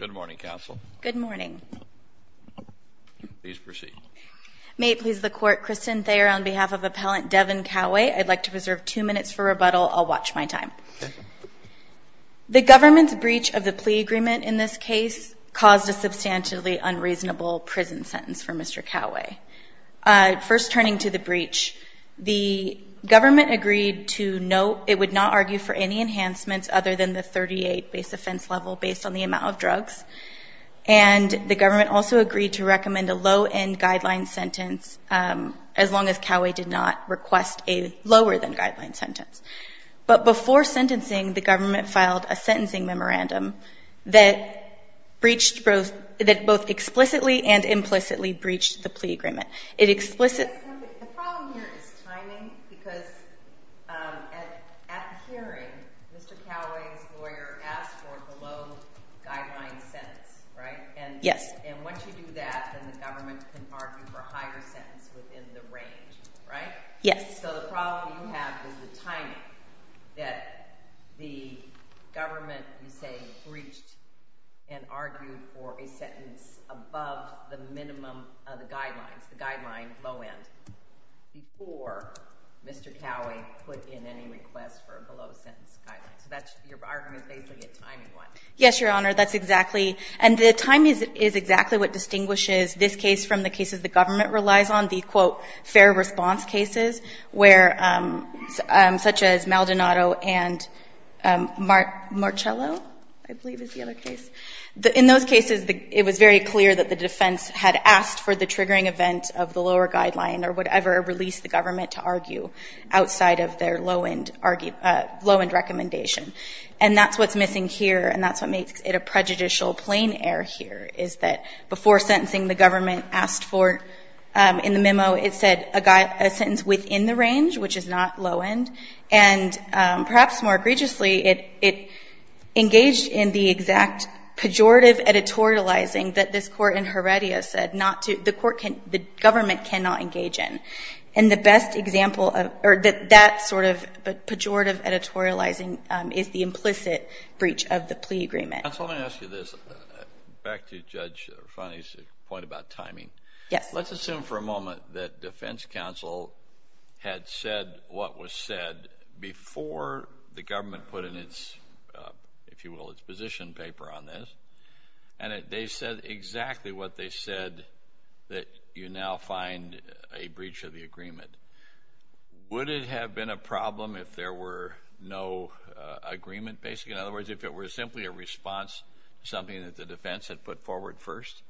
Good morning, counsel. Good morning. Please proceed. May it please the court, Kristen Thayer on behalf of appellant Devon Kauwe, I'd like to reserve two minutes for rebuttal. I'll watch my time. The government's breach of the plea agreement in this case caused a substantially unreasonable prison sentence for Mr. Kauwe. First turning to the breach, the government agreed to no, it would not argue for any enhancements other than the 38 base offense level based on the amount of drugs. And the government also agreed to recommend a low end guideline sentence as long as Kauwe did not request a lower than guideline sentence. But before sentencing, the government filed a sentencing memorandum that breached both, that both explicitly and implicitly breached the plea agreement. It The problem here is timing, because at the hearing, Mr. Kauwe's lawyer asked for a below guideline sentence, right? And once you do that, then the government can argue for a higher sentence within the range, right? So the problem you have is the timing that the government, you say, breached and argued for a sentence above the minimum of the guidelines, the guideline low end, before Mr. Kauwe put in any request for a below sentence guideline. So that's your argument, basically, a timing one. Yes, Your Honor, that's exactly, and the timing is exactly what distinguishes this case from the cases the government relies on, the, quote, fair response cases, where, such as Maldonado and Marcello, I believe is the other case. In those cases, it was very clear that the government of the lower guideline or whatever released the government to argue outside of their low end argument, low end recommendation. And that's what's missing here, and that's what makes it a prejudicial plein air here, is that before sentencing, the government asked for, in the memo, it said a sentence within the range, which is not low end, and perhaps more egregiously, it engaged in the exact pejorative editorializing that this court can, the government cannot engage in. And the best example of, or that sort of pejorative editorializing is the implicit breach of the plea agreement. Counsel, let me ask you this. Back to Judge Refani's point about timing. Yes. Let's assume for a moment that defense counsel had said what was said before the government put in its, if you will, its position paper on this, and they said exactly what they said that you now find a breach of the agreement. Would it have been a problem if there were no agreement, basically? In other words, if it were simply a response, something that the defense had put forward first?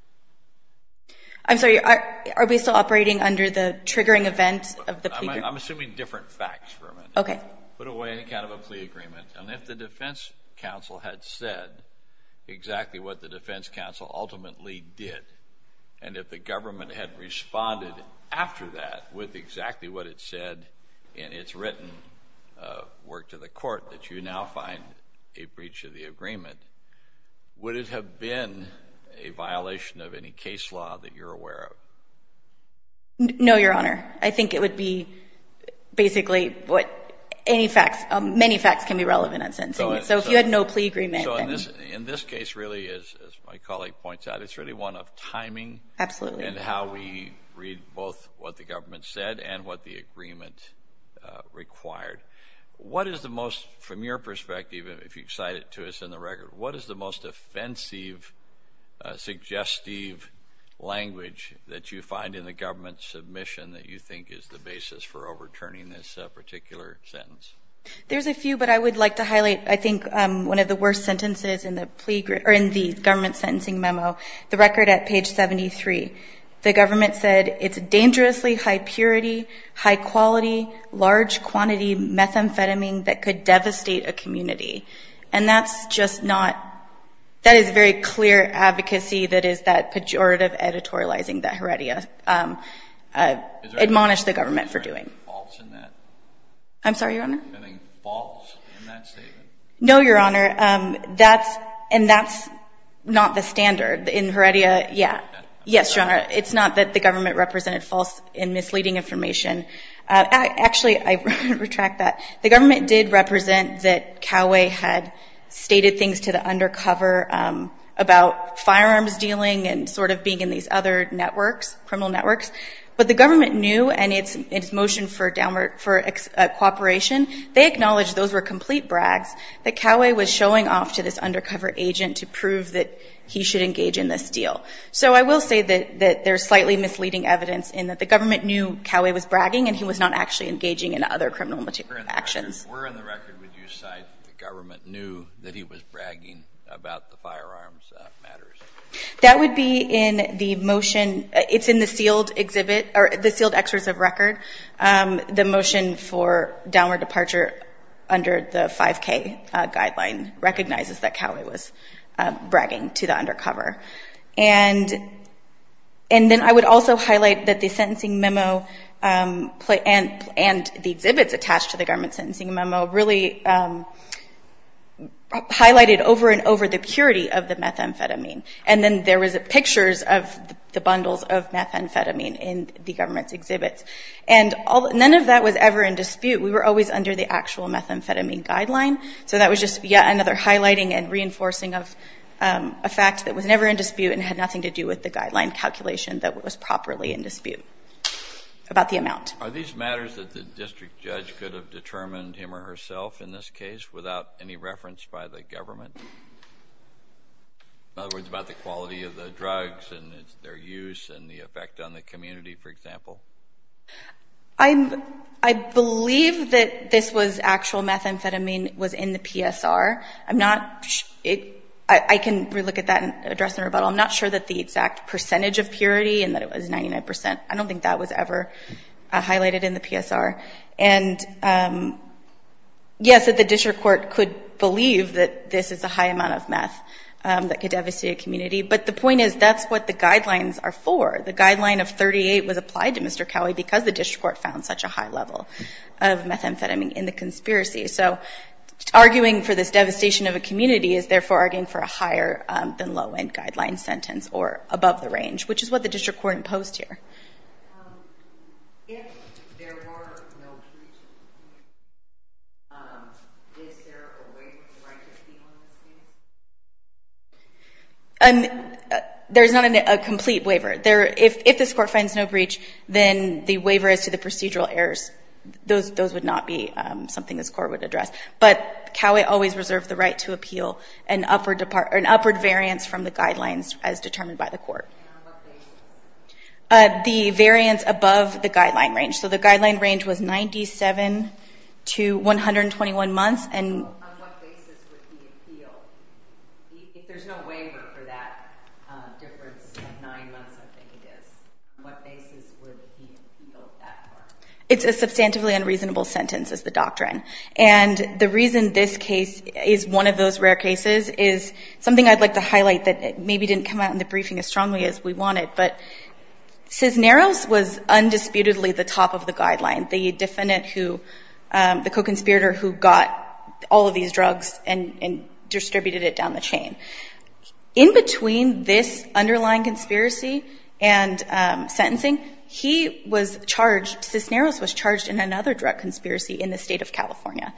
I'm sorry, are we still operating under the triggering event of the plea agreement? I'm assuming different facts for a minute. Okay. Put away any kind of a plea agreement, and if the defense counsel had said exactly what the defense counsel ultimately did, and if the government had responded after that with exactly what it said in its written work to the court that you now find a breach of the agreement, would it have been a violation of any case law that you're aware of? No, Your Honor. I think it would be basically what any facts, many facts can be relevant in sentencing. So if you had no plea agreement, then... In this case, really, as my colleague points out, it's really one of timing... Absolutely. ...and how we read both what the government said and what the agreement required. What is the most, from your perspective, if you cite it to us in the record, what is the most offensive, suggestive language that you find in the government submission that you think is the basis for overturning this particular sentence? There's a few, but I would like to highlight, I think, one of the worst sentences in the government sentencing memo, the record at page 73. The government said, it's dangerously high purity, high quality, large quantity methamphetamine that could devastate a community. And that's just not... That is very clear advocacy that is that pejorative editorializing that Heredia admonished the government for doing. Is there any fault in that? I'm sorry, Your Honor? Is there any fault in that statement? No, Your Honor. That's... And that's not the standard in Heredia. Yeah. Yes, Your Honor. It's not that the government represented false and misleading information. Actually, I retract that. The government did represent that Coway had stated things to the undercover about firearms dealing and sort of being in these other networks, criminal networks. But the undercover cooperation, they acknowledged those were complete brags that Coway was showing off to this undercover agent to prove that he should engage in this deal. So I will say that there's slightly misleading evidence in that the government knew Coway was bragging and he was not actually engaging in other criminal actions. Where in the record would you cite the government knew that he was bragging about the firearms matters? That would be in the motion. It's in the sealed exhibit or the sealed excerpts of record. The motion for downward departure under the 5K guideline recognizes that Coway was bragging to the undercover. And then I would also highlight that the sentencing memo and the exhibits attached to the government sentencing memo really highlighted over and over the purity of the methamphetamine. And then there was pictures of the bundles of methamphetamine in the government's exhibits. And none of that was ever in dispute. We were always under the actual methamphetamine guideline. So that was just yet another highlighting and reinforcing of a fact that was never in dispute and had nothing to do with the guideline calculation that was properly in dispute about the amount. Are these matters that the district judge could have determined him or herself in this case without any reference by the government? In other words, about the quality of the drugs and their use and the effect on the community, for example? I believe that this was actual methamphetamine was in the PSR. I can re-look at that and address in rebuttal. I'm not sure that the exact percentage of purity and that it was 99 percent. I don't think that was ever highlighted in the PSR. And yes, that the district court could believe that this is a high amount of meth that could devastate a community. But the point is that's what the guidelines are for. The guideline of 38 was applied to Mr. Cowley because the district court found such a high level of methamphetamine in the conspiracy. So arguing for this devastation of a community is therefore arguing for a higher than low end guideline sentence or above the range, which is what the district court imposed here. If there were no breach, is there a waiver of the right to appeal in this case? There's not a complete waiver. If this court finds no breach, then the waiver is to the procedural errors. Those would not be something this court would address. But Cowley always reserved the right to appeal an upward variance from the guidelines as determined by the court. And on what basis? The variance above the guideline range. So the guideline range was 97 to 121 months. On what basis would he appeal? If there's no waiver for that difference of nine months, I'm thinking it is. On what basis would he appeal that far? It's a substantively unreasonable sentence is the doctrine. And the reason this case is one of those rare cases is something I'd like to highlight that maybe didn't come out in the briefing as strongly as we wanted. But Cisneros was undisputedly the top of the guideline, the defendant who, the co-conspirator who got all of these drugs and distributed it down the chain. In between this underlying conspiracy and sentencing, he was charged, Cisneros was charged in another drug conspiracy in the state of California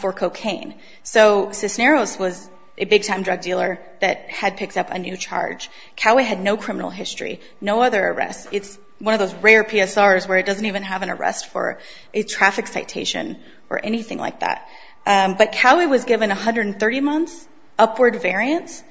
for cocaine. So Cisneros was a big-time drug dealer that had picked up a new charge. Cowley had no criminal history, no other arrests. It's one of those rare PSRs where it doesn't even have an arrest for a traffic citation or anything like that. But Cowley was given 130 months upward variance,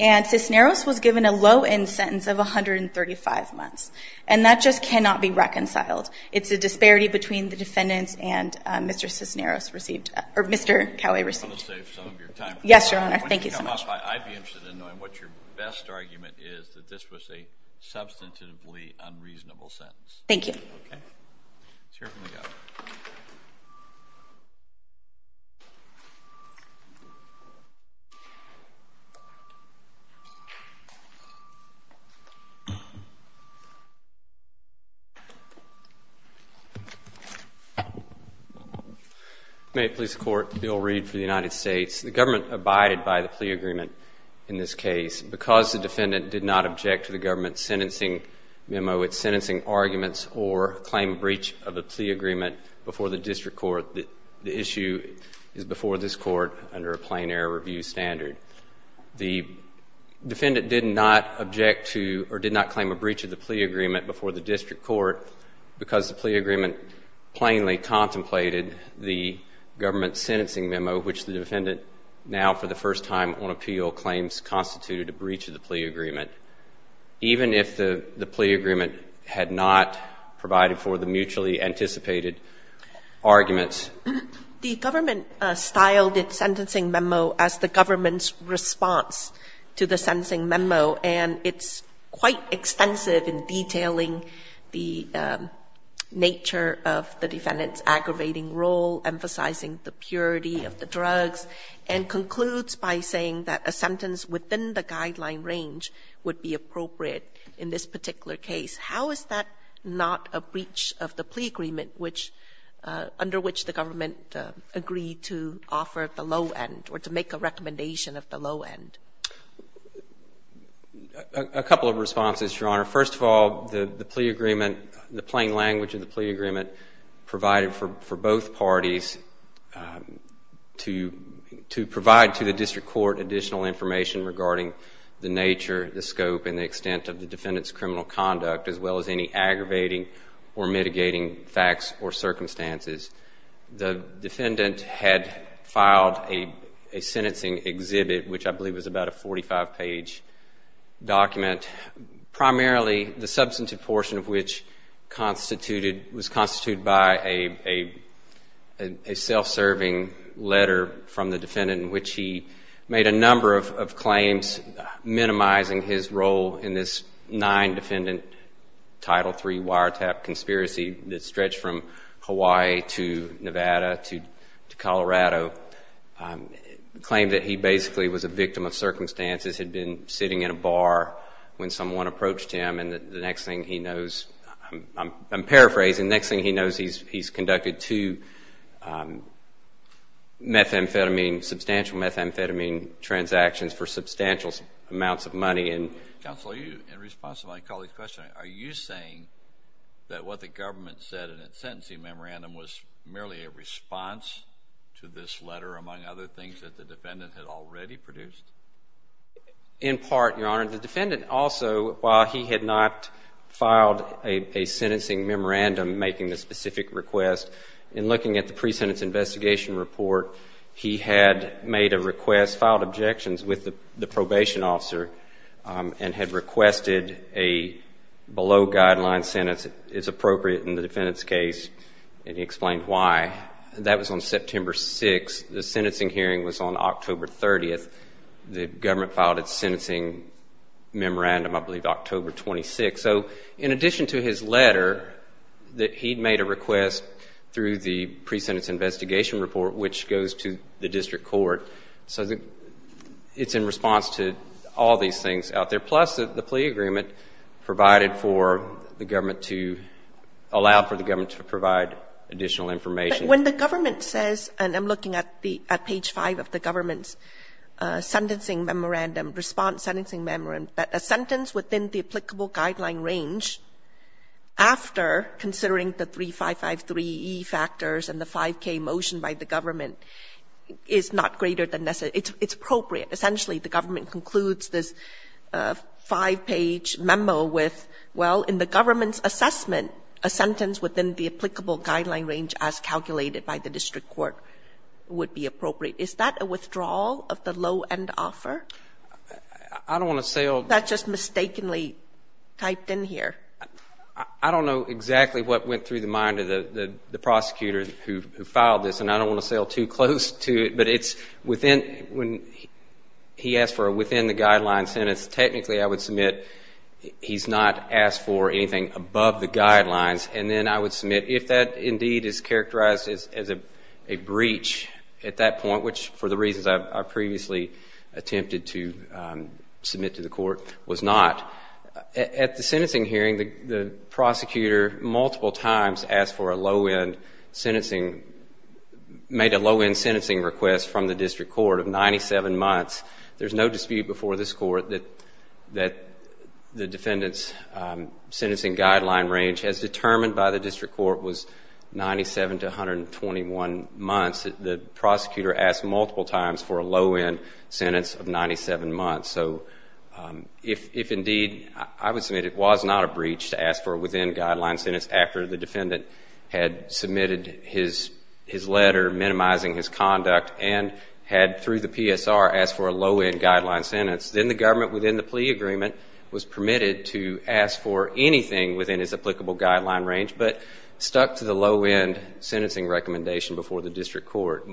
and Cisneros was given a low-end sentence of 135 months. And that just cannot be reconciled. It's a disparity between the defendants and Mr. Cisneros received, or Mr. Cowley received. Let me save some of your time. Yes, Your Honor. Thank you so much. I'd be interested in knowing what your best argument is that this was a substantively unreasonable sentence. Thank you. Okay. Let's hear it from the guy. May it please the Court, Bill Reed for the United States. The government abided by the plea agreement in this case. Because the defendant did not object to the government's sentencing memo, its sentencing arguments or claim breach of the plea agreement before the district court, the issue is before this court under a plain-air review standard. The defendant did not object to or did not claim a breach of the plea agreement before the district court because the plea agreement plainly contemplated the government's sentencing memo, which the defendant now for the first time on appeal claims constituted a breach of the plea agreement, even if the plea agreement had not provided for the mutually anticipated arguments. The government styled its sentencing memo as the government's response to the sentencing memo, and it's quite extensive in detailing the nature of the defendant's aggravating role, emphasizing the purity of the drugs, and concludes by saying that a sentence within the guideline range would be appropriate in this particular case. How is that not a breach of the plea agreement under which the government agreed to offer at the low end or to make a recommendation at the low end? A couple of responses, Your Honor. First of all, the plea agreement, the plain language of the plea agreement, provided for both parties to provide to the district court additional information regarding the nature, the scope, and the extent of the defendant's criminal conduct, as well as any aggravating or mitigating facts or circumstances. The defendant had filed a sentencing exhibit, which I believe was about a 45-page document, primarily the substantive portion of which was constituted by a self-serving letter from the defendant in which he made a number of claims minimizing his role in this nine-defendant Title III wiretap conspiracy that stretched from Hawaii to Nevada to Colorado, claimed that he basically was a victim of circumstances, had been sitting in a bar when someone approached him, and the next thing he knows, I'm paraphrasing, next thing he knows he's conducted two methamphetamine, substantial methamphetamine transactions for substantial amounts of money. Counsel, in response to my colleague's question, are you saying that what the government said in its sentencing memorandum was merely a response to this letter, among other things, that the defendant had already produced? In part, Your Honor. The defendant also, while he had not filed a sentencing memorandum making the specific request, in looking at the pre-sentence investigation report, he had made a request, filed objections with the probation officer, and had requested a below-guideline sentence is appropriate in the defendant's case, and he explained why. That was on September 6th. The sentencing hearing was on October 30th. The government filed its sentencing memorandum, I believe, October 26th. So in addition to his letter that he'd made a request through the pre-sentence investigation report, which goes to the district court, so it's in response to all these things out there, plus the plea agreement provided for the government to allow for the government to provide additional information. But when the government says, and I'm looking at the page 5 of the government's sentencing memorandum, response sentencing memorandum, that a sentence within the applicable guideline range, after considering the 3553E factors and the 5K motion by the government, is not greater than necessary. It's appropriate. Essentially, the government concludes this 5-page memo with, well, in the government's assessment, a sentence within the applicable guideline range as calculated by the district court would be appropriate. Is that a withdrawal of the low-end offer? I don't want to sell. That's just mistakenly typed in here. I don't know exactly what went through the mind of the prosecutor who filed this, and I don't want to sell too close to it. But it's within, when he asked for a within the guideline sentence, technically I would submit he's not asked for anything above the guidelines. And then I would submit if that indeed is characterized as a breach at that point, which for the reasons I previously attempted to submit to the court was not. At the sentencing hearing, the prosecutor multiple times asked for a low-end sentencing, made a low-end sentencing request from the district court of 97 months. There's no dispute before this court that the defendant's sentencing guideline range, as determined by the district court, was 97 to 121 months. The prosecutor asked multiple times for a low-end sentence of 97 months. So if indeed I would submit it was not a breach to ask for a within guideline sentence after the defendant had submitted his letter minimizing his conduct and had through the PSR asked for a low-end guideline sentence, then the government within the plea agreement was permitted to ask for anything within his applicable guideline range but stuck to the low-end sentencing recommendation before the district court.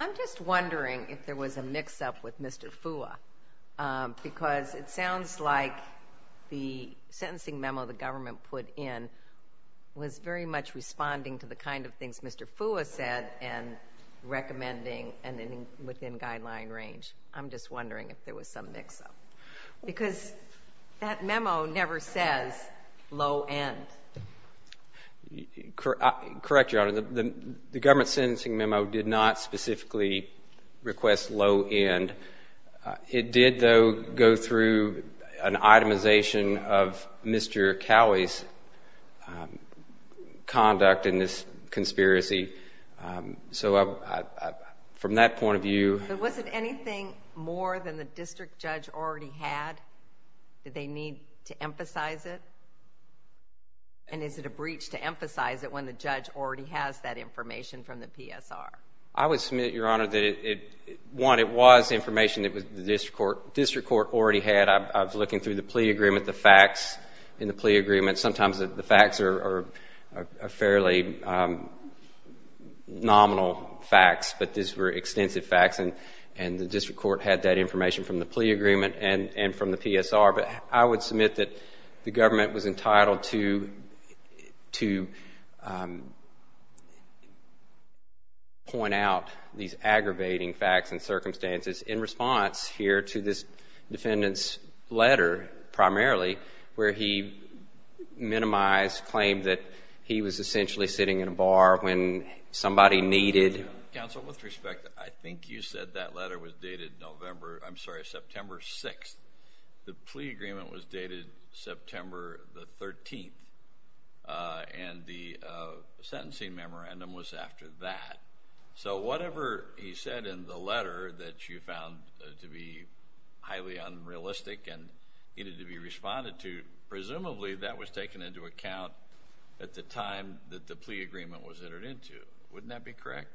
I'm just wondering if there was a mix-up with Mr. Fua because it sounds like the sentencing memo the government put in was very much responding to the kind of things Mr. Fua said and recommending a within guideline range. I'm just wondering if there was some mix-up because that memo never says low-end. Correct, Your Honor. The government sentencing memo did not specifically request low-end. It did, though, go through an itemization of Mr. Cowley's conduct in this conspiracy. So from that point of view— But was it anything more than the district judge already had? Did they need to emphasize it? And is it a breach to emphasize it when the judge already has that information from the PSR? I would submit, Your Honor, that, one, it was information that the district court already had. I was looking through the plea agreement, the facts in the plea agreement. Sometimes the facts are fairly nominal facts, but these were extensive facts. And the district court had that information from the plea agreement and from the PSR. But I would submit that the government was entitled to point out these aggravating facts and circumstances in response here to this defendant's letter, primarily, where he minimized claim that he was essentially sitting in a bar when somebody needed— said that letter was dated November—I'm sorry, September 6th. The plea agreement was dated September the 13th, and the sentencing memorandum was after that. So whatever he said in the letter that you found to be highly unrealistic and needed to be responded to, presumably that was taken into account at the time that the plea agreement was entered into. Wouldn't that be correct?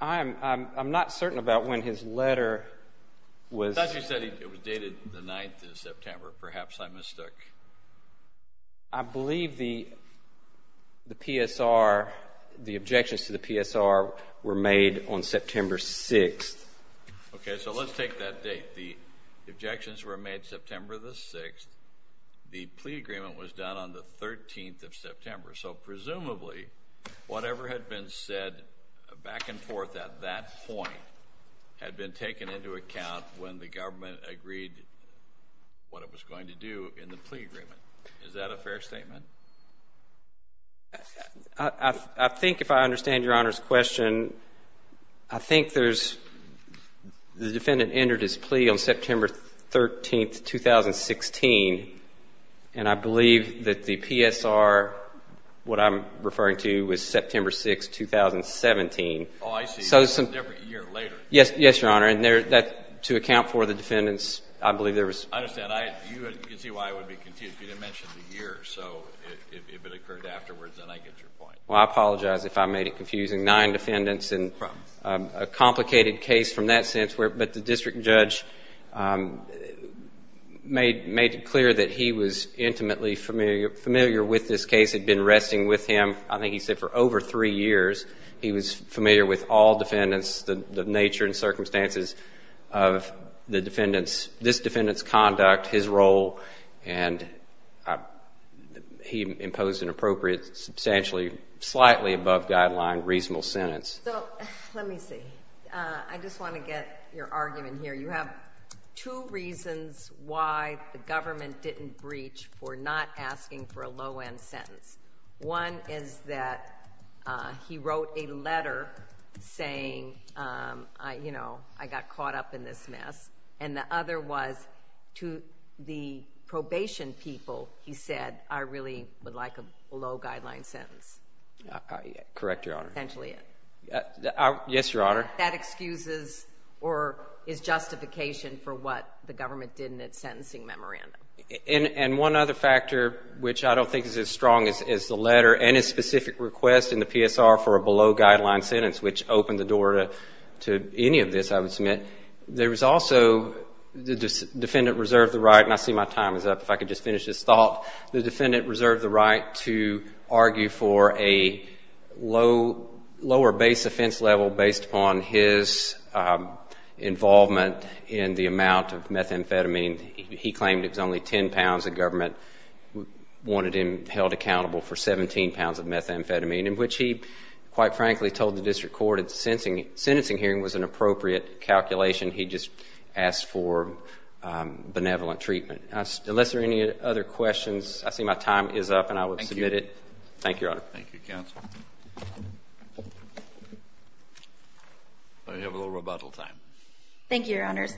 I'm not certain about when his letter was— I thought you said it was dated the 9th of September. Perhaps I mistook. I believe the PSR, the objections to the PSR were made on September 6th. Okay, so let's take that date. The objections were made September the 6th. The plea agreement was done on the 13th of September. So presumably, whatever had been said back and forth at that point had been taken into account when the government agreed what it was going to do in the plea agreement. Is that a fair statement? I think if I understand Your Honor's question, I think there's— the defendant entered his plea on September 13th, 2016, and I believe that the PSR, what I'm referring to, was September 6th, 2017. Oh, I see. It was a different year later. Yes, Your Honor. And to account for the defendants, I believe there was— I understand. You can see why I would be confused. You didn't mention the year. So if it occurred afterwards, then I get your point. Well, I apologize if I made it confusing. Nine defendants and a complicated case from that sense. But the district judge made it clear that he was intimately familiar with this case, had been resting with him, I think he said, for over three years. He was familiar with all defendants, the nature and circumstances of this defendant's conduct, his role, and he imposed an appropriate, substantially, slightly above guideline, reasonable sentence. So let me see. I just want to get your argument here. You have two reasons why the government didn't breach for not asking for a low-end sentence. One is that he wrote a letter saying, you know, I got caught up in this mess, and the other was to the probation people, he said, I really would like a low-guideline sentence. Correct, Your Honor. Yes, Your Honor. That excuses or is justification for what the government did in its sentencing memorandum. And one other factor which I don't think is as strong as the letter and his specific request in the PSR for a below-guideline sentence, which opened the door to any of this, I would submit, there was also the defendant reserved the right, and I see my time is up. If I could just finish this thought. The defendant reserved the right to argue for a lower base offense level based upon his involvement in the amount of methamphetamine. He claimed it was only 10 pounds. The government wanted him held accountable for 17 pounds of methamphetamine, in which he, quite frankly, told the district court a sentencing hearing was an appropriate calculation. He just asked for benevolent treatment. Unless there are any other questions, I see my time is up, and I will submit it. Thank you. Thank you, Your Honor. Thank you, counsel. You have a little rebuttal time. Thank you, Your Honors.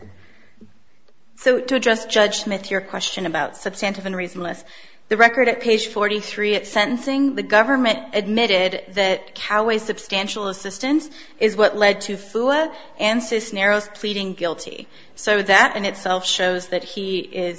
So to address Judge Smith, your question about substantive and reasonableness, the record at page 43 at sentencing, the government admitted that Coway's substantial assistance is what led to Fua and Cisneros pleading guilty. So that in itself shows that he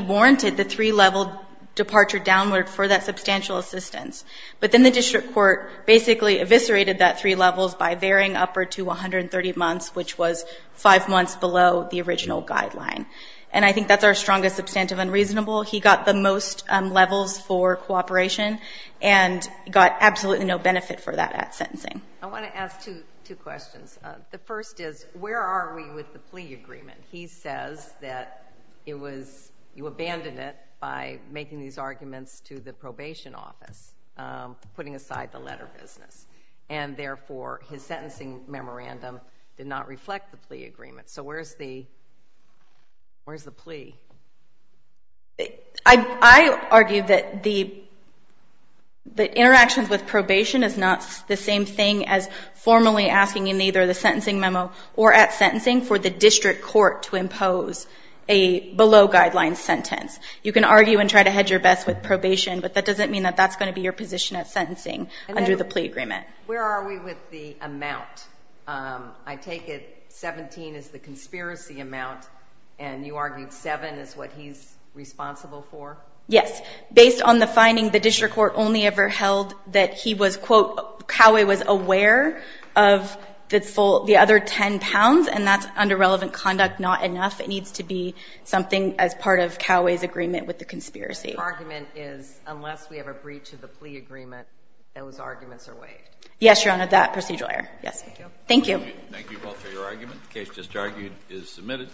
warranted the three-level departure downward for that substantial assistance. But then the district court basically eviscerated that three levels by varying up or to 130 months, which was five months below the original guideline. And I think that's our strongest substantive unreasonable. He got the most levels for cooperation and got absolutely no benefit for that at sentencing. I want to ask two questions. The first is, where are we with the plea agreement? He says that you abandoned it by making these arguments to the probation office, putting aside the letter business, and therefore his sentencing memorandum did not reflect the plea agreement. So where's the plea? I argue that the interactions with probation is not the same thing as formally asking in either the sentencing memo or at sentencing for the district court to impose a below-guideline sentence. You can argue and try to hedge your bets with probation, but that doesn't mean that that's going to be your position at sentencing under the plea agreement. Where are we with the amount? I take it 17 is the conspiracy amount, and you argued 7 is what he's responsible for? Yes. Based on the finding, the district court only ever held that he was, quote, Coway was aware of the other 10 pounds, and that's under relevant conduct not enough. It needs to be something as part of Coway's agreement with the conspiracy. Your argument is unless we have a breach of the plea agreement, those arguments are waived. Yes, Your Honor, that procedural error. Thank you. Thank you both for your argument. The case just argued is submitted.